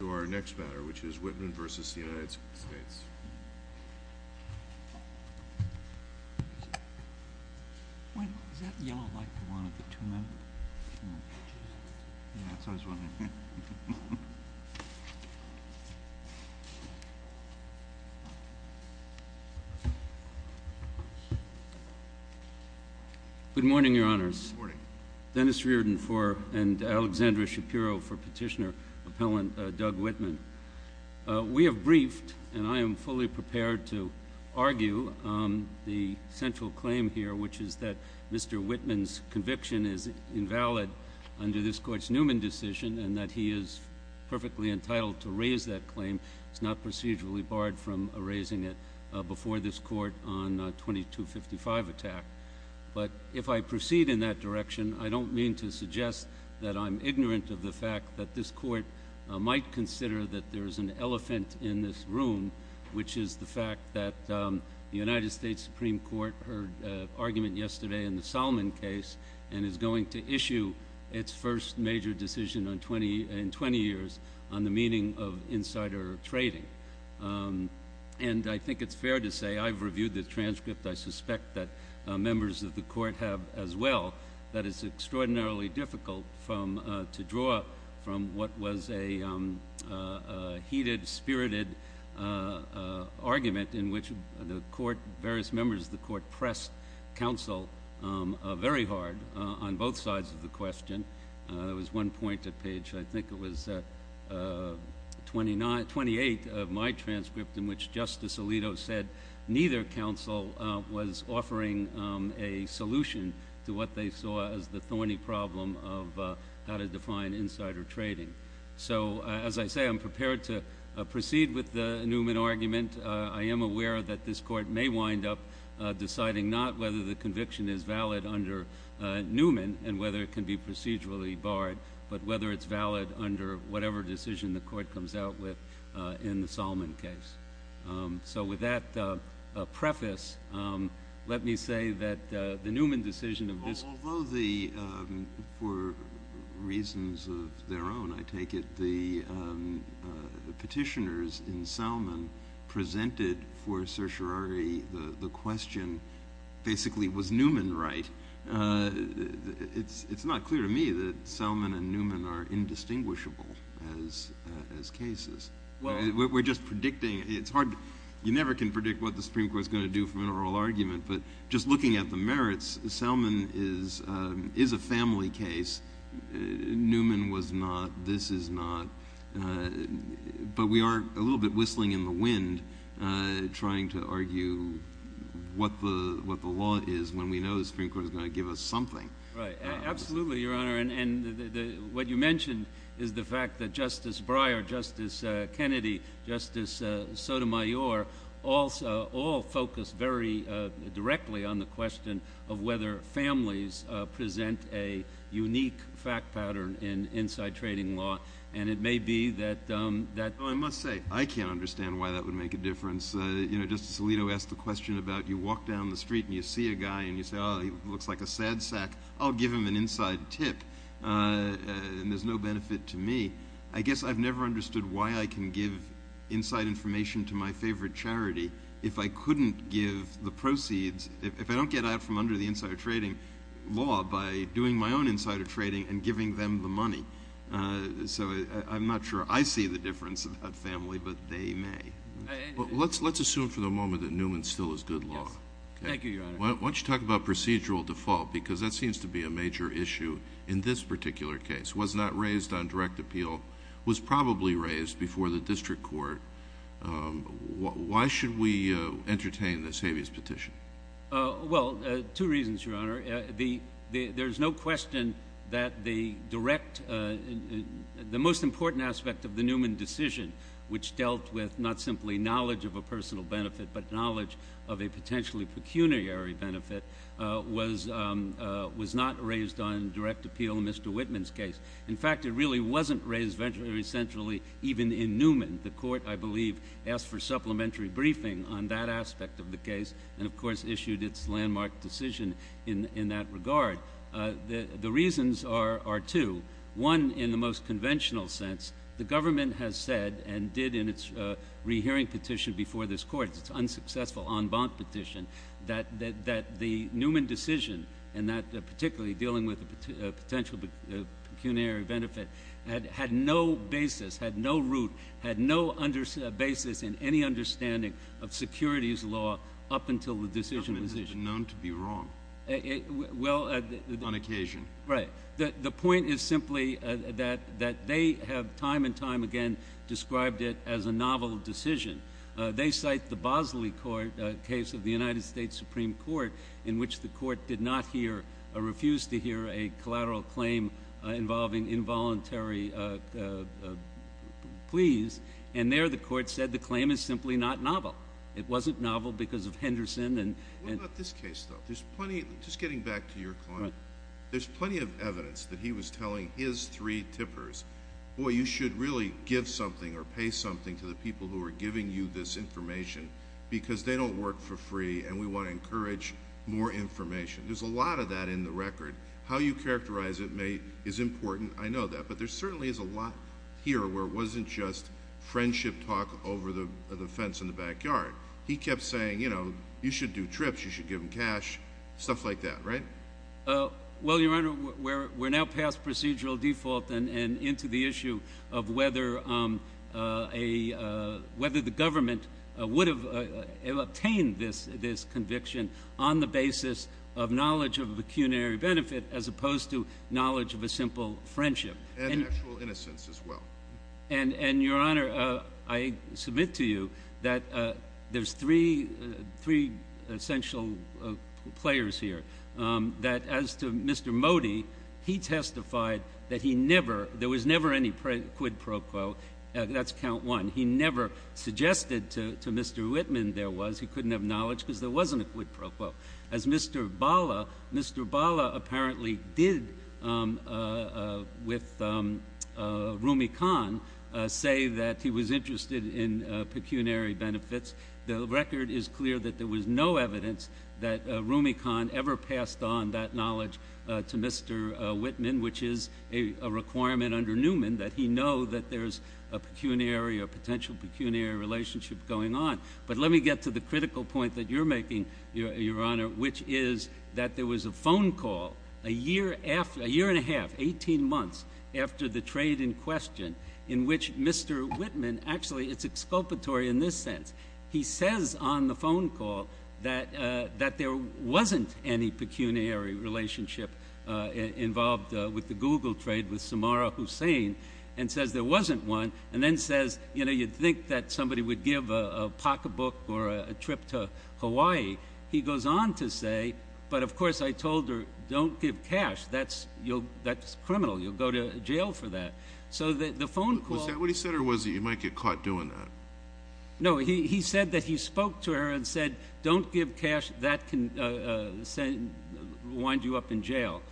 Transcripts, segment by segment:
to our next matter, which is Whitman v. United States. Good morning, Your Honors. Dennis Reardon and Alexandra Shapiro for Petitioner Appellant Doug Whitman. We have briefed, and I am fully prepared to argue, the central claim here, which is that Mr. Whitman's conviction is invalid under this Court's Newman decision, and that he is perfectly entitled to raise that claim. It's not procedurally barred from raising it before this Court on 2255 attack. But if I proceed in that direction, I don't mean to suggest that I'm ignorant of the fact that this Court might consider that there's an elephant in this room, which is the fact that the United States Supreme Court heard an argument yesterday in the Solomon case and is going to issue its first major decision in 20 years on the meaning of insider trading. And I think it's fair to say I've reviewed the transcript. I suspect that members of the Court have as well. That is extraordinarily difficult to draw from what was a heated, spirited argument in which the various members of the Court pressed counsel very hard on both sides of the question. There was one point at page, I think it was, 28 of my transcript in which Justice Alito said neither counsel was offering a solution to what they saw as the thorny problem of how to define insider trading. So as I say, I'm prepared to proceed with the Newman argument. I am aware that this Court may wind up deciding not whether the conviction is valid under Newman and whether it can be procedurally barred, but whether it's valid under whatever decision the Court comes out with in the Solomon case. So with that preface, let me say that the Newman decision of this Court— Although the—for reasons of their own, I take it, the petitioners in Solomon presented for certiorari the question, basically, was Newman right? It's not clear to me that Solomon and Newman are indistinguishable as cases. We're just predicting. It's hard—you never can predict what the Supreme Court is going to do from an oral argument, but just looking at the merits, Solomon is a family case. Newman was not. This is not. But we are a little bit whistling in the wind trying to argue what the law is when we know the Supreme Court is going to give us something. Right. Absolutely, Your Honor. And what you mentioned is the fact that Justice Breyer, Justice Kennedy, Justice Sotomayor all focus very directly on the question of whether families present a unique fact pattern in inside trading law. And it may be that— Well, I must say, I can't understand why that would make a difference. You know, Justice Alito asked the question about, you walk down the street and you see a guy and you say, oh, he looks like a sad sack. I'll give him an inside tip, and there's no benefit to me. I guess I've never understood why I can give inside information to my favorite charity if I couldn't give the proceeds—if I don't get out from under the insider trading law by doing my own insider trading and giving them the money. So I'm not sure I see the difference about family, but they may. Let's assume for the moment that Newman's still is good law. Yes. Thank you, Your Honor. Why don't you talk about procedural default? Because that seems to be a major issue in this particular case. Was not raised on direct appeal. Was probably raised before the district court. Why should we entertain this habeas petition? Well, two reasons, Your Honor. There's no question that the direct—the most important aspect of the Newman decision, which dealt with not simply knowledge of a personal benefit, but knowledge of a potentially pecuniary benefit, was not raised on direct appeal in Mr. Whitman's case. In fact, it really wasn't raised very centrally even in Newman. The court, I believe, asked for supplementary briefing on that aspect of the case, and of the trademark decision in that regard. The reasons are two. One, in the most conventional sense, the government has said and did in its rehearing petition before this court, its unsuccessful en banc petition, that the Newman decision, and that particularly dealing with a potential pecuniary benefit, had no basis, had no root, had no basis in any understanding of securities law up until the decision was issued. It was known to be wrong on occasion. Right. The point is simply that they have time and time again described it as a novel decision. They cite the Bosley case of the United States Supreme Court, in which the court did not hear or refused to hear a collateral claim involving involuntary pleas, and there the court said the claim is simply not novel. It wasn't novel because of Henderson and— What about this case, though? Just getting back to your client, there's plenty of evidence that he was telling his three tippers, boy, you should really give something or pay something to the people who are giving you this information because they don't work for free and we want to encourage more information. There's a lot of that in the record. How you characterize it is important. I know that, but there certainly is a lot here where it wasn't just friendship talk over the fence in the backyard. He kept saying, you know, you should do trips, you should give them cash, stuff like that, right? Well, Your Honor, we're now past procedural default and into the issue of whether the government would have obtained this conviction on the basis of knowledge of pecuniary benefit as opposed to knowledge of a simple friendship. And actual innocence as well. And, Your Honor, I submit to you that there's three essential players here. That as to Mr. Modi, he testified that he never—there was never any quid pro quo. That's count one. He never suggested to Mr. Whitman there was. He couldn't have knowledge because there wasn't a quid pro quo. As Mr. Bala—Mr. Bala apparently did with Rumi Khan say that he was interested in pecuniary benefits. The record is clear that there was no evidence that Rumi Khan ever passed on that knowledge to Mr. Whitman, which is a requirement under Newman that he know that there's a pecuniary or potential pecuniary relationship going on. But let me get to the critical point that you're making, Your Honor, which is that there was a phone call a year and a half, 18 months after the trade in question in which Mr. Whitman—actually, it's exculpatory in this sense. He says on the phone call that there wasn't any pecuniary relationship involved with the Google trade with Samarra Hussein and says there wasn't one and then says, you know, book a book or a trip to Hawaii. He goes on to say, but of course I told her, don't give cash. That's criminal. You'll go to jail for that. So the phone call— Was that what he said or was he—you might get caught doing that? No, he said that he spoke to her and said, don't give cash. That can wind you up in jail.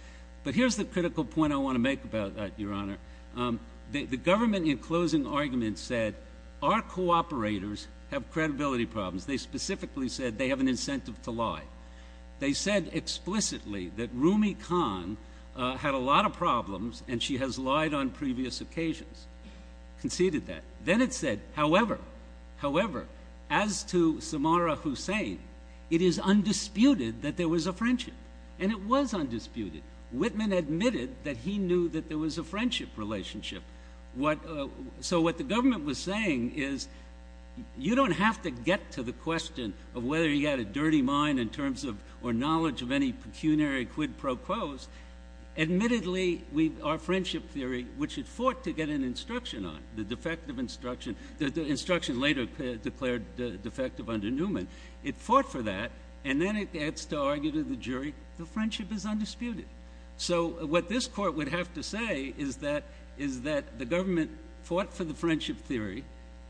But here's the critical point I want to make about that, Your Honor. The government, in closing arguments, said our cooperators have credibility problems. They specifically said they have an incentive to lie. They said explicitly that Rumi Khan had a lot of problems and she has lied on previous occasions. Conceded that. Then it said, however, as to Samarra Hussein, it is undisputed that there was a friendship. And it was undisputed. Whitman admitted that he knew that there was a friendship relationship. So what the government was saying is, you don't have to get to the question of whether he had a dirty mind in terms of—or knowledge of any pecuniary quid pro quos. Admittedly, our friendship theory, which it fought to get an instruction on, the defective instruction—the instruction later declared defective under Newman—it fought for that. And then it gets to argue to the jury, the friendship is undisputed. So what this court would have to say is that the government fought for the friendship theory,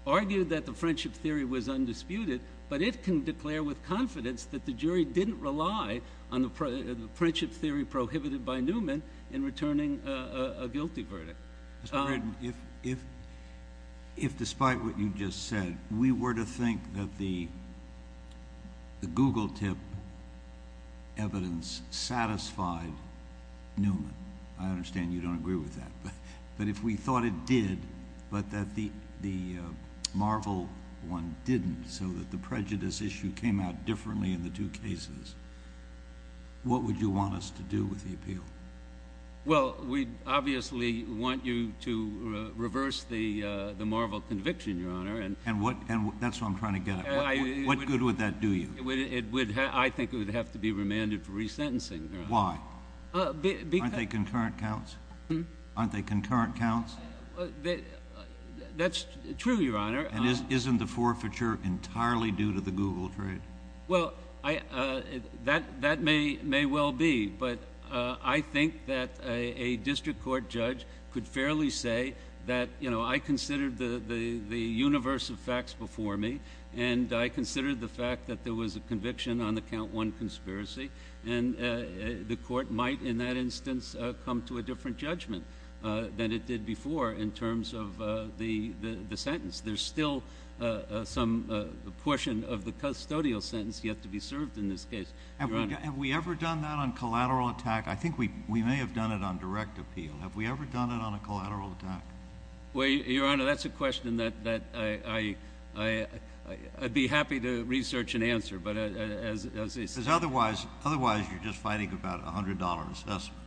argued that the friendship theory was undisputed, but it can declare with confidence that the jury didn't rely on the friendship theory prohibited by Newman in returning a guilty verdict. Mr. Braden, if despite what you just said, we were to think that the Google tip evidence satisfied Newman—I understand you don't agree with that—but if we thought it did, but that the Marvel one didn't, so that the prejudice issue came out differently in the two cases, what would you want us to do with the appeal? Well, we'd obviously want you to reverse the Marvel conviction, Your Honor. And what—that's what I'm trying to get at. What good would that do you? I think it would have to be remanded for resentencing, Your Honor. Why? Aren't they concurrent counts? That's true, Your Honor. And isn't the forfeiture entirely due to the Google trade? Well, that may well be, but I think that a district court judge could fairly say that, you know, I considered the universe of facts before me, and I considered the fact that there was a conviction on the count one conspiracy, and the court might in that instance come to a different judgment than it did before in terms of the sentence. There's still some portion of the custodial sentence yet to be served in this case, Your Honor. Have we ever done that on collateral attack? I think we may have done it on direct appeal. Have we ever done it on a collateral attack? Well, Your Honor, that's a question that I'd be happy to research and answer, but as— Because otherwise you're just fighting about a $100 assessment,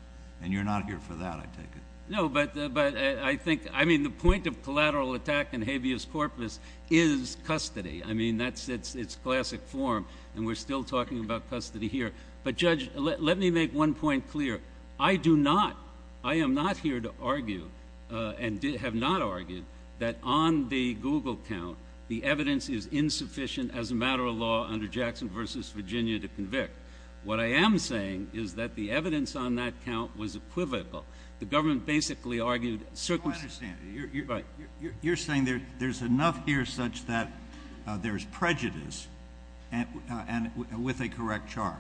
and you're not here for that, I take it. No, but I think—I mean, the point of collateral attack in habeas corpus is custody. I mean, that's its classic form, and we're still talking about custody here. But, Judge, let me make one point clear. I do not—I am not here to argue and have not argued that on the Google count, the evidence is insufficient as a matter of law under Jackson v. Virginia to convict. What I am saying is that the evidence on that count was equivocal. The government basically argued— No, I understand. You're saying there's enough here such that there's prejudice with a correct charge.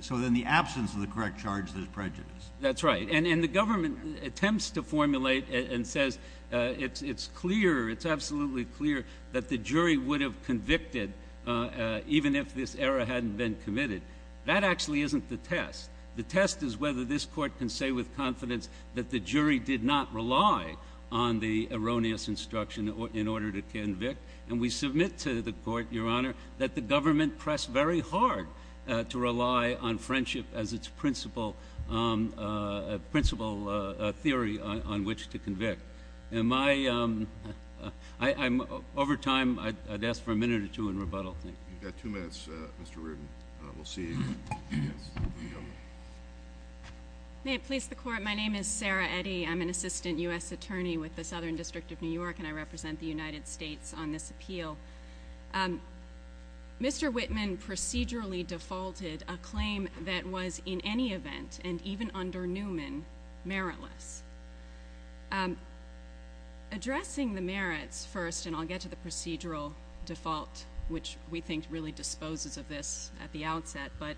So in the absence of the correct charge, there's prejudice. That's right. And the government attempts to formulate and says it's clear, it's absolutely clear, that the jury would have convicted even if this error hadn't been committed. That actually isn't the test. The test is whether this Court can say with confidence that the jury did not rely on the erroneous instruction in order to convict. And we submit to the Court, Your Honor, that the government pressed very hard to rely on friendship as its principal theory on which to convict. Am I—over time, I'd ask for a minute or two in rebuttal. You've got two minutes, Mr. Reardon. We'll see. May it please the Court, my name is Sarah Eddy. I'm an assistant U.S. attorney with the Southern District of New York and I represent the United States on this appeal. Mr. Whitman procedurally defaulted a claim that was, in any event, and even under Newman, meritless. Addressing the merits first, and I'll get to the procedural default, which we think really disposes of this at the outset, but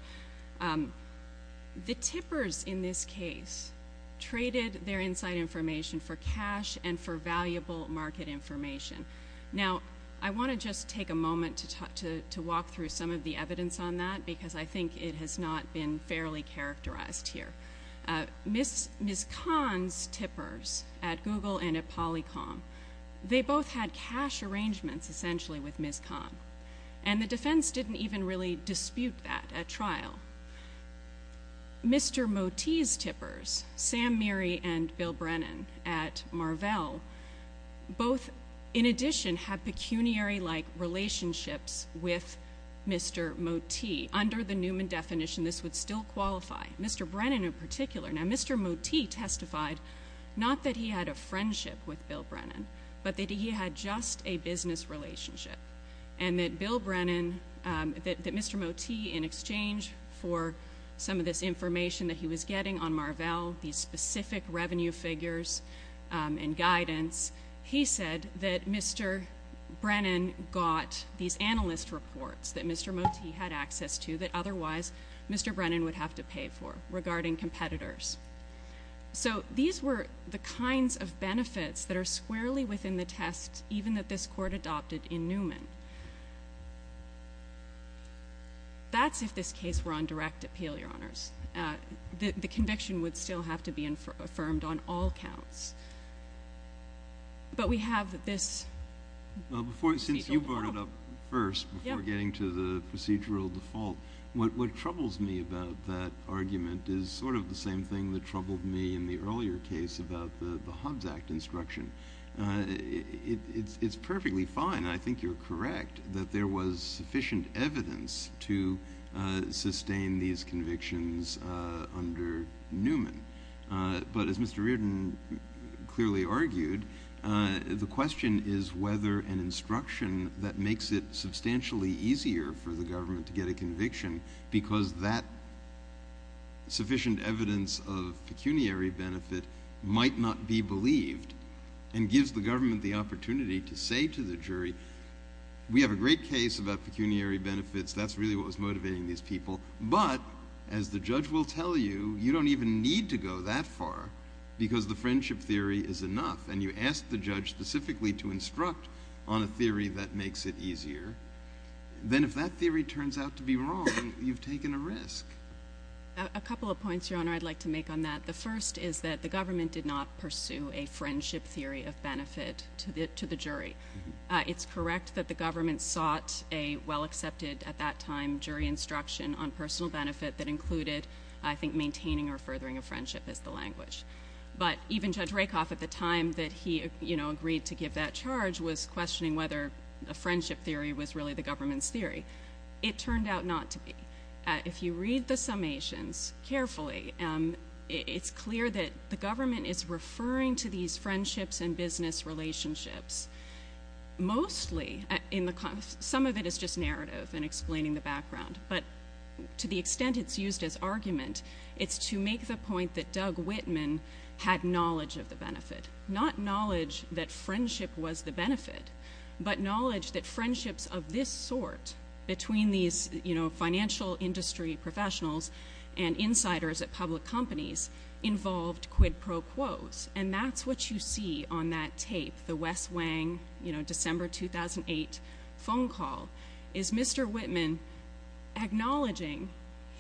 the tippers in this case traded their inside information for cash and for valuable market information. Now, I want to just take a moment to walk through some of the evidence on that because I think it has not been fairly characterized here. Ms. Kahn's tippers at Google and at Polycom, they both had cash arrangements, essentially, with Ms. Kahn. And the defense didn't even really dispute that at trial. Mr. Motee's tippers, Sam Meary and Bill Brennan at Marvell, both, in addition, have pecuniary-like relationships with Mr. Motee. Under the Newman definition, this would still qualify. Mr. Brennan, in particular. Now, Mr. Motee testified, not that he had a friendship with Bill Brennan, but that he had just a business relationship. And that Bill Brennan, that Mr. Motee, in exchange for some of this information that he was getting on Marvell, these specific revenue figures and guidance, he said that Mr. Brennan got these analyst reports that Mr. Motee had access to that otherwise Mr. Brennan would have to pay for regarding competitors. So these were the kinds of benefits that are squarely within the test, even that this court adopted in Newman. That's if this case were on direct appeal, Your Honors. The conviction would still have to be affirmed on all counts. But we have this procedural default. What troubles me about that argument is sort of the same thing that troubled me in the earlier case about the Hobbs Act instruction. It's perfectly fine, and I think you're correct, that there was sufficient evidence to sustain these convictions under Newman. But as Mr. Reardon clearly argued, the question is whether an instruction that makes it substantially easier for the government to get a conviction because that sufficient evidence of pecuniary benefit might not be believed and gives the government the opportunity to say to the jury, we have a great case about pecuniary benefits. That's really what was motivating these people. But, as the judge will tell you, you don't even need to go that far because the friendship theory is enough. And you ask the judge specifically to instruct on a theory that makes it easier. Then if that theory turns out to be wrong, you've taken a risk. A couple of points, Your Honor, I'd like to make on that. The first is that the government did not pursue a friendship theory of benefit to the jury. It's correct that the government sought a well-accepted at that time jury instruction on personal benefit that included, I think, maintaining or furthering a friendship as the language. But even Judge Rakoff, at the time that he agreed to give that charge, was questioning whether a friendship theory was really the government's theory. It turned out not to be. If you read the summations carefully, it's clear that the government is referring to these friendships and business relationships. Mostly, some of it is just narrative and explaining the background. But to the extent it's used as argument, it's to make the point that Doug Whitman had knowledge of the benefit. Not knowledge that friendship was the benefit, but knowledge that friendships of this sort between these financial industry professionals and insiders at public companies involved quid pro quos. And that's what you see on that tape, the Wes Wang, December 2008, phone call. Is Mr. Whitman acknowledging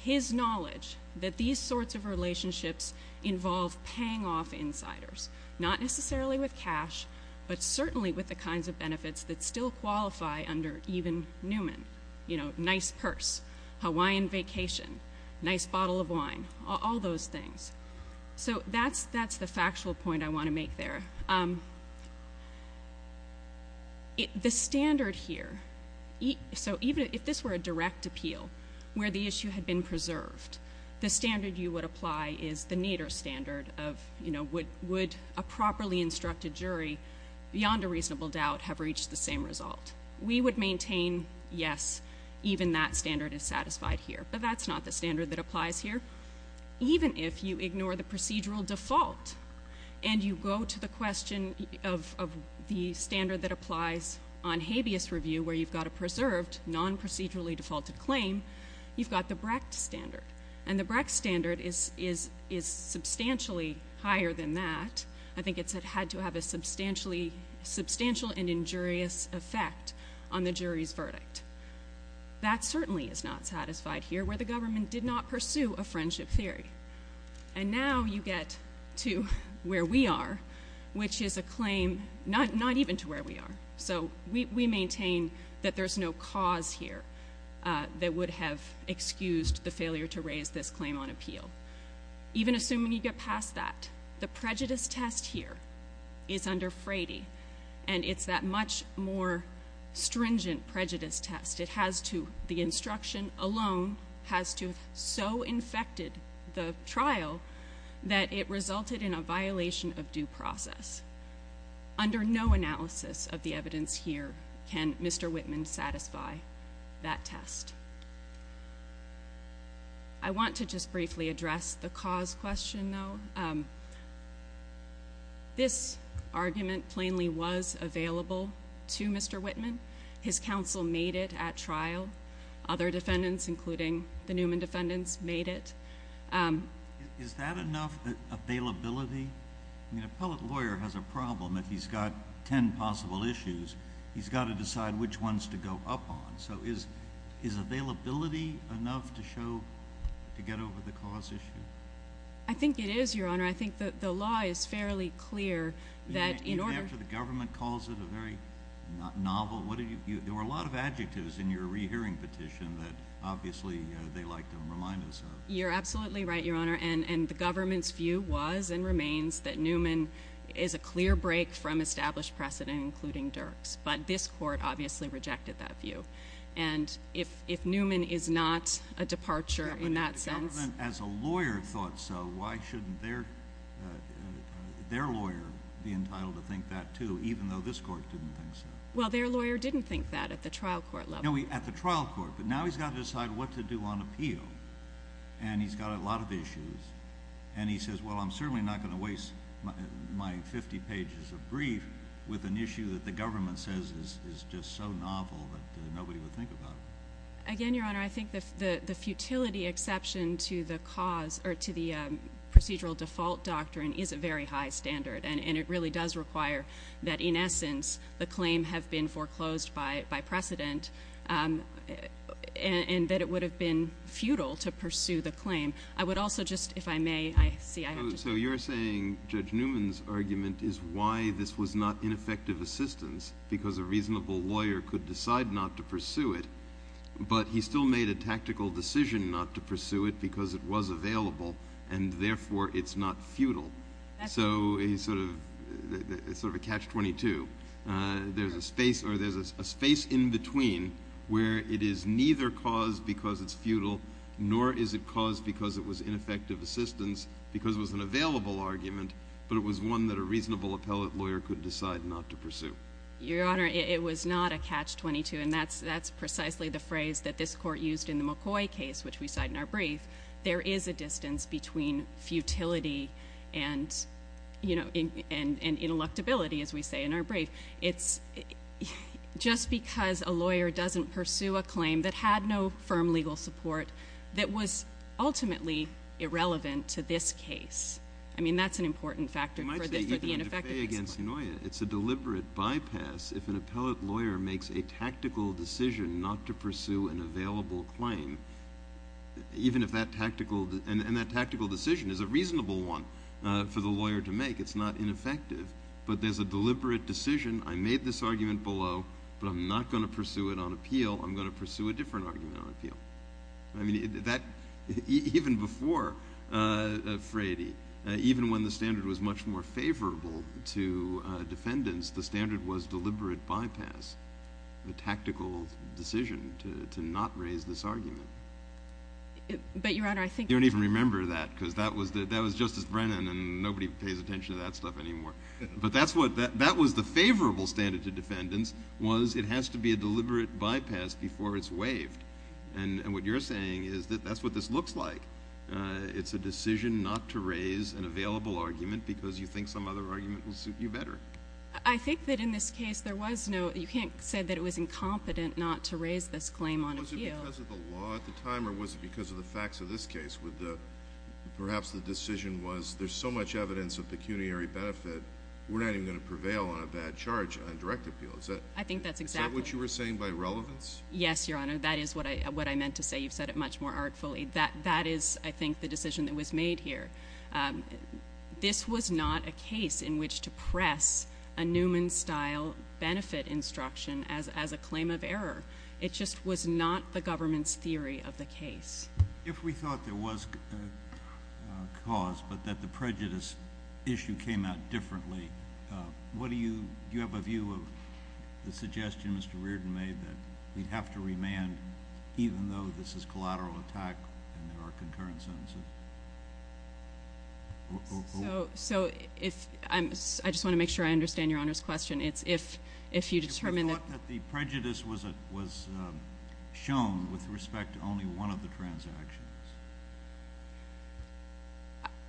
his knowledge that these sorts of relationships involve paying off insiders? Not necessarily with cash, but certainly with the kinds of benefits that still qualify under even Newman. You know, nice purse, Hawaiian vacation, nice bottle of wine. All those things. So that's the factual point I want to make there. The standard here, so even if this were a direct appeal, where the issue had been preserved, the standard you would apply is the Nader standard of, you know, would a properly instructed jury, beyond a reasonable doubt, have reached the same result. We would maintain, yes, even that standard is satisfied here. But that's not the standard that applies here. Even if you ignore the procedural default and you go to the question of the standard that applies on habeas review, where you've got a preserved, non-procedurally defaulted claim, you've got the Brecht standard. And the Brecht standard is substantially higher than that. I think it's had to have a substantial and injurious effect on the jury's verdict. That certainly is not satisfied here, where the government did not pursue a friendship theory. And now you get to where we are, which is a claim not even to where we are. So we maintain that there's no cause here that would have excused the failure to raise this claim on appeal. Even assuming you get past that, the prejudice test here is under Frady. And it's that much more stringent prejudice test. It has to, the instruction alone, has to have so infected the trial that it resulted in a violation of due process. Under no analysis of the evidence here can Mr. Whitman satisfy that test. I want to just briefly address the cause question, though. This argument plainly was available to Mr. Whitman. His counsel made it at trial. Other defendants, including the Newman defendants, made it. Is that enough availability? I mean, an appellate lawyer has a problem. If he's got ten possible issues, he's got to decide which ones to go up on. So is availability enough to show, to get over the cause issue? I think it is, Your Honor. I think the law is fairly clear that in order... Even after the government calls it a very novel... There were a lot of adjectives in your rehearing petition that obviously they like to remind us of. You're absolutely right, Your Honor. And the government's view was and remains that Newman is a clear break from established precedent, including Dirks. But this court obviously rejected that view. And if Newman is not a departure in that sense... But if the government, as a lawyer, thought so, why shouldn't their lawyer be entitled to think that, too, even though this court didn't think so? Well, their lawyer didn't think that at the trial court level. At the trial court. But now he's got to decide what to do on appeal. And he's got a lot of issues. And he says, well, I'm certainly not going to waste my 50 pages of brief with an issue that the government says is just so novel that nobody would think about it. Again, Your Honor, I think the futility exception to the cause, or to the procedural default doctrine, is a very high standard. And it really does require that, in essence, the claim have been foreclosed by precedent, and that it would have been futile to pursue the claim. I would also just, if I may... So you're saying Judge Newman's argument is why this was not ineffective assistance, because a reasonable lawyer could decide not to pursue it, but he still made a tactical decision not to pursue it because it was available, and therefore it's not futile. So it's sort of a catch-22. There's a space in between where it is neither cause because it's futile, nor is it cause because it was ineffective assistance, because it was an available argument, but it was one that a reasonable appellate lawyer could decide not to pursue. Your Honor, it was not a catch-22, and that's precisely the phrase that this court used in the McCoy case, which we cite in our brief. There is a distance between futility and, you know, It's just because a lawyer doesn't pursue a claim that had no firm legal support that was ultimately irrelevant to this case. I mean, that's an important factor for the ineffectiveness. It's a deliberate bypass if an appellate lawyer makes a tactical decision not to pursue an available claim, even if that tactical decision is a reasonable one for the lawyer to make. It's not ineffective. But there's a deliberate decision. I made this argument below, but I'm not going to pursue it on appeal. I'm going to pursue a different argument on appeal. I mean, even before Frady, even when the standard was much more favorable to defendants, the standard was deliberate bypass, a tactical decision to not raise this argument. But, Your Honor, I think... You don't even remember that, because that was Justice Brennan, and nobody pays attention to that stuff anymore. But that was the favorable standard to defendants, was it has to be a deliberate bypass before it's waived. And what you're saying is that that's what this looks like. It's a decision not to raise an available argument because you think some other argument will suit you better. I think that in this case, there was no... You can't say that it was incompetent not to raise this claim on appeal. Was it because of the law at the time, or was it because of the facts of this case? Perhaps the decision was, there's so much evidence of pecuniary benefit, we're not even going to prevail on a bad charge on direct appeal. Is that what you were saying by relevance? Yes, Your Honor, that is what I meant to say. You've said it much more artfully. That is, I think, the decision that was made here. This was not a case in which to press a Newman-style benefit instruction as a claim of error. It just was not the government's theory of the case. If we thought there was cause, but that the prejudice issue came out differently, do you have a view of the suggestion Mr. Reardon made that we'd have to remand even though this is collateral attack and there are concurrent sentences? So, I just want to make sure I understand Your Honor's question. It's if you determine that... If we thought that the prejudice was shown with respect to only one of the transactions?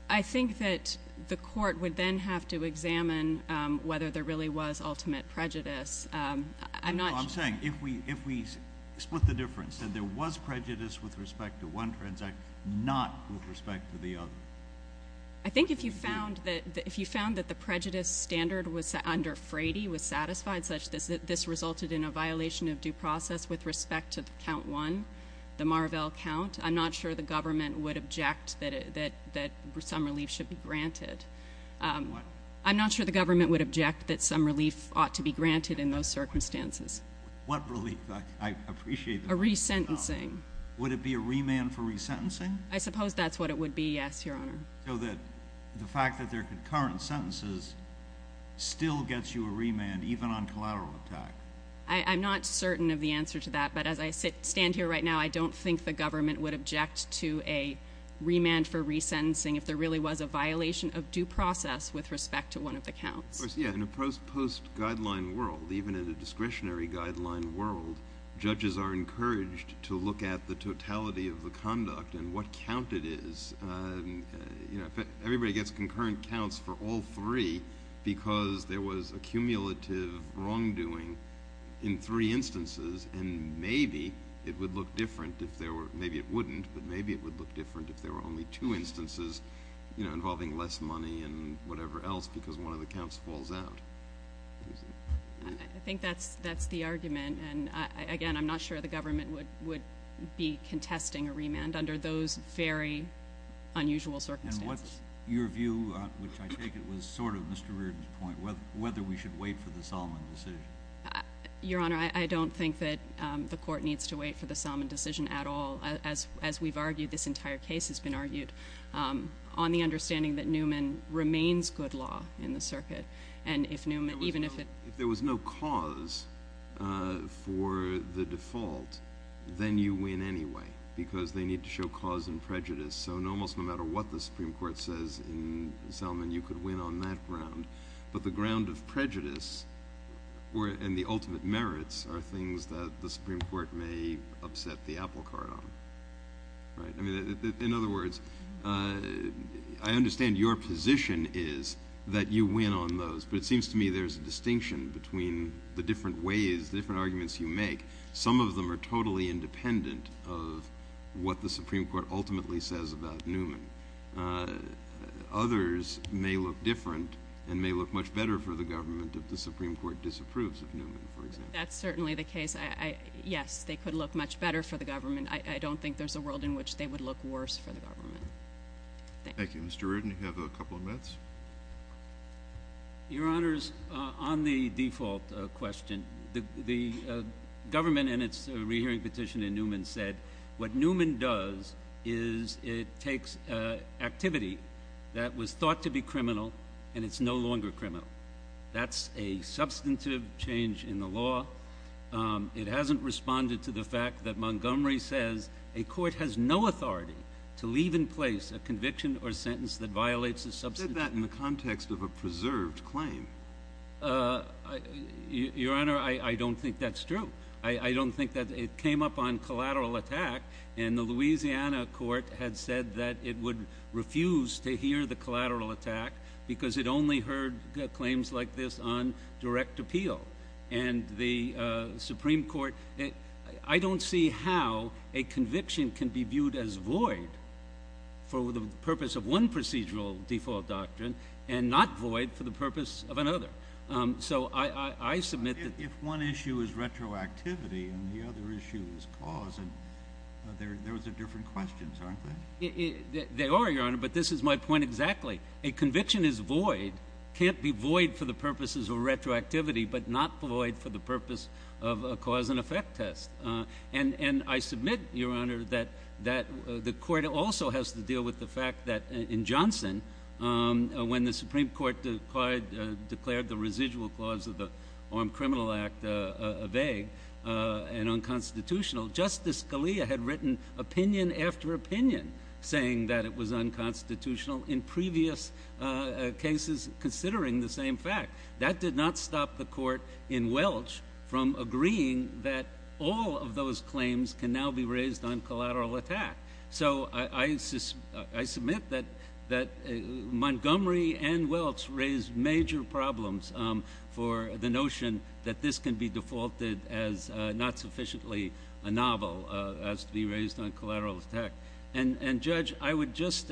I think that the court would then have to examine whether there really was ultimate prejudice. I'm not... No, I'm saying if we split the difference, that there was prejudice with respect to one transaction, not with respect to the other. I think if you found that the prejudice standard under Frady was satisfied, such that this resulted in a violation of due process with respect to count one, the Marvell count, I'm not sure the government would object that some relief should be granted. What? I'm not sure the government would object that some relief ought to be granted in those circumstances. What relief? I appreciate... A resentencing. Would it be a remand for resentencing? I suppose that's what it would be, yes, Your Honor. So that the fact that there are concurrent sentences still gets you a remand, even on collateral attack? I'm not certain of the answer to that, but as I stand here right now, I don't think the government would object to a remand for resentencing if there really was a violation of due process with respect to one of the counts. Yeah, in a post-guideline world, even in a discretionary guideline world, judges are encouraged to look at the totality of the conduct and what count it is. You know, everybody gets concurrent counts for all three because there was a cumulative wrongdoing in three instances, and maybe it would look different if there were... Maybe it wouldn't, but maybe it would look different if there were only two instances, you know, involving less money and whatever else, because one of the counts falls out. I think that's the argument, and again, I'm not sure the government would be contesting a remand under those very unusual circumstances. And what's your view, which I take it was sort of Mr. Reardon's point, whether we should wait for the Salmon decision? Your Honour, I don't think that the Court needs to wait for the Salmon decision at all. As we've argued, this entire case has been argued, on the understanding that Newman remains good law in the circuit, and if Newman... If there was no cause for the default, then you win anyway, because they need to show cause and prejudice. So almost no matter what the Supreme Court says in Salmon, you could win on that ground, but the ground of prejudice and the ultimate merits are things that the Supreme Court may upset the applecart on. Right? I mean, in other words, I understand your position is that you win on those, but it seems to me there's a distinction between the different ways, the different arguments you make. Some of them are totally independent of what the Supreme Court ultimately says about Newman. Others may look different and may look much better for the government if the Supreme Court disapproves of Newman, for example. That's certainly the case. Yes, they could look much better for the government. I don't think there's a world in which they would look worse for the government. Thank you. Mr. Reardon, you have a couple of minutes. Your Honours, on the default question, the government, in its rehearing petition in Newman, said what Newman does is it takes activity that was thought to be criminal and it's no longer criminal. That's a substantive change in the law. It hasn't responded to the fact that Montgomery says a court has no authority to leave in place a conviction or sentence that violates a substantive... You said that in the context of a preserved claim. Your Honour, I don't think that's true. I don't think that it came up on collateral attack. And the Louisiana court had said that it would refuse to hear the collateral attack because it only heard claims like this on direct appeal. And the Supreme Court... I don't see how a conviction can be viewed as void for the purpose of one procedural default doctrine and not void for the purpose of another. So I submit that... If one issue is retroactivity and the other issue is cause those are different questions, aren't they? They are, Your Honour, but this is my point exactly. A conviction is void, can't be void for the purposes of retroactivity but not void for the purpose of a cause and effect test. And I submit, Your Honour, that the court also has to deal with the fact that in Johnson when the Supreme Court declared the residual clause of the Armed Criminal Act vague and unconstitutional, Justice Scalia had written opinion after opinion saying that it was unconstitutional in previous cases considering the same fact. That did not stop the court in Welch from agreeing that all of those claims can now be raised on collateral attack. So I submit that Montgomery and Welch raised major problems for the notion that this can be defaulted as not sufficiently a novel as to be raised on collateral attack. And Judge, I would just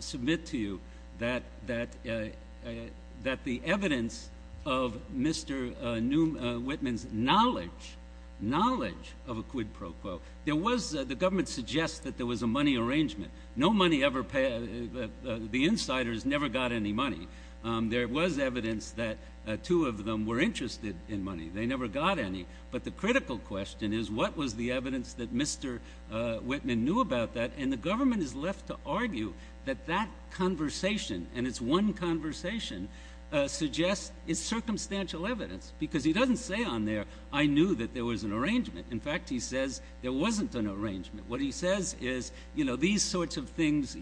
submit to you that the evidence of Mr. Whitman's knowledge of a quid pro quo there was... The government suggests that there was a money arrangement. No money ever paid... The insiders never got any money. There was evidence that two of them were interested in money. They never got any. But the critical question is what was the evidence that Mr. Whitman knew about that and the government is left to argue that that conversation and it's one conversation suggests it's circumstantial evidence because he doesn't say on there I knew that there was an arrangement. In fact, he says there wasn't an arrangement. What he says is these sorts of things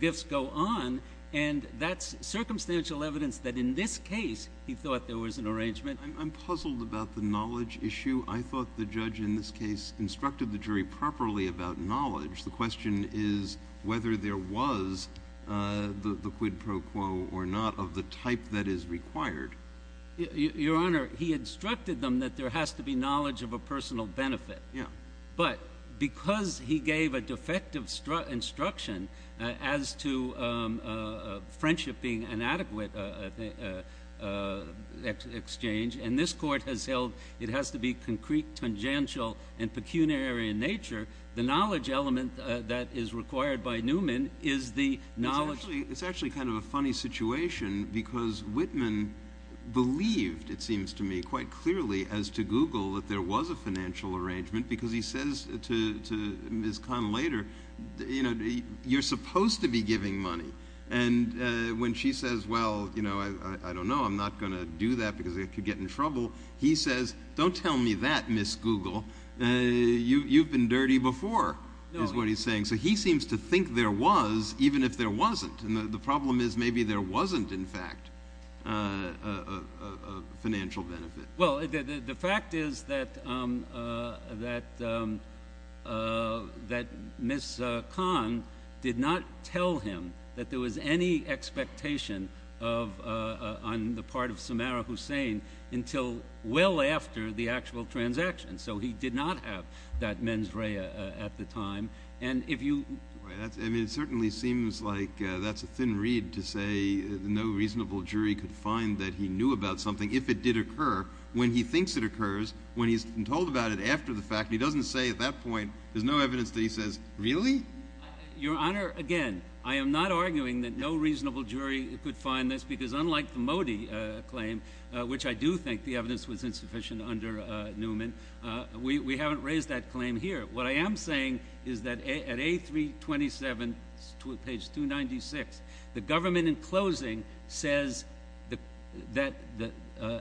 gifts go on and that's circumstantial evidence that in this case he thought there was an arrangement. I'm puzzled about the knowledge issue. I thought the judge in this case instructed the jury properly about knowledge. The question is whether there was the quid pro quo or not of the type that is required. Your Honor, he instructed them that there has to be knowledge of a personal benefit. But because he gave a defective instruction as to friendship being inadequate exchange and this court has held it has to be concrete, tangential and pecuniary in nature the knowledge element that is required by Newman is the knowledge It's actually kind of a funny situation because Whitman believed, it seems to me quite clearly as to Google that there was a financial arrangement because he says to Ms. Conlater you're supposed to be giving money and when she says well, I don't know, I'm not going to do that because I could get in trouble he says, don't tell me that, Ms. Google you've been dirty before, is what he's saying so he seems to think there was even if there wasn't and the problem is maybe there wasn't in fact a financial benefit. Well, the fact is that that Ms. Con did not tell him that there was any expectation on the part of Samara Hussein until well after the actual transaction so he did not have that mens rea at the time and if you I mean it certainly seems like that's a thin reed to say no reasonable jury could find that he knew about something if it did occur when he thinks it occurs when he's been told about it after the fact he doesn't say at that point, there's no evidence that he says really? Your Honor, again, I am not arguing that no reasonable jury could find this because unlike the Modi claim which I do think the evidence was insufficient under Newman we haven't raised that claim here what I am saying is that at A327 page 296, the government in closing says that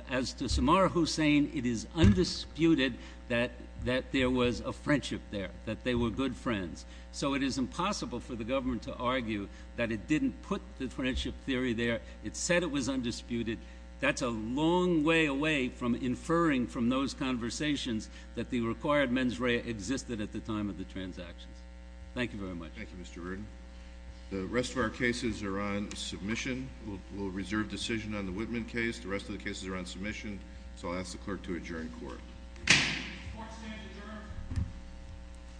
as to Samara Hussein it is undisputed that there was a friendship there that they were good friends so it is impossible for the government to argue that it didn't put the friendship theory there, it said it was undisputed that's a long way away from inferring from those conversations that the required mens rea existed at the time of the transactions thank you very much. Thank you Mr. Rurdin the rest of our cases are on submission, we'll reserve decision on the Whitman case, the rest of the cases are on submission so I'll ask the clerk to adjourn court Court is adjourned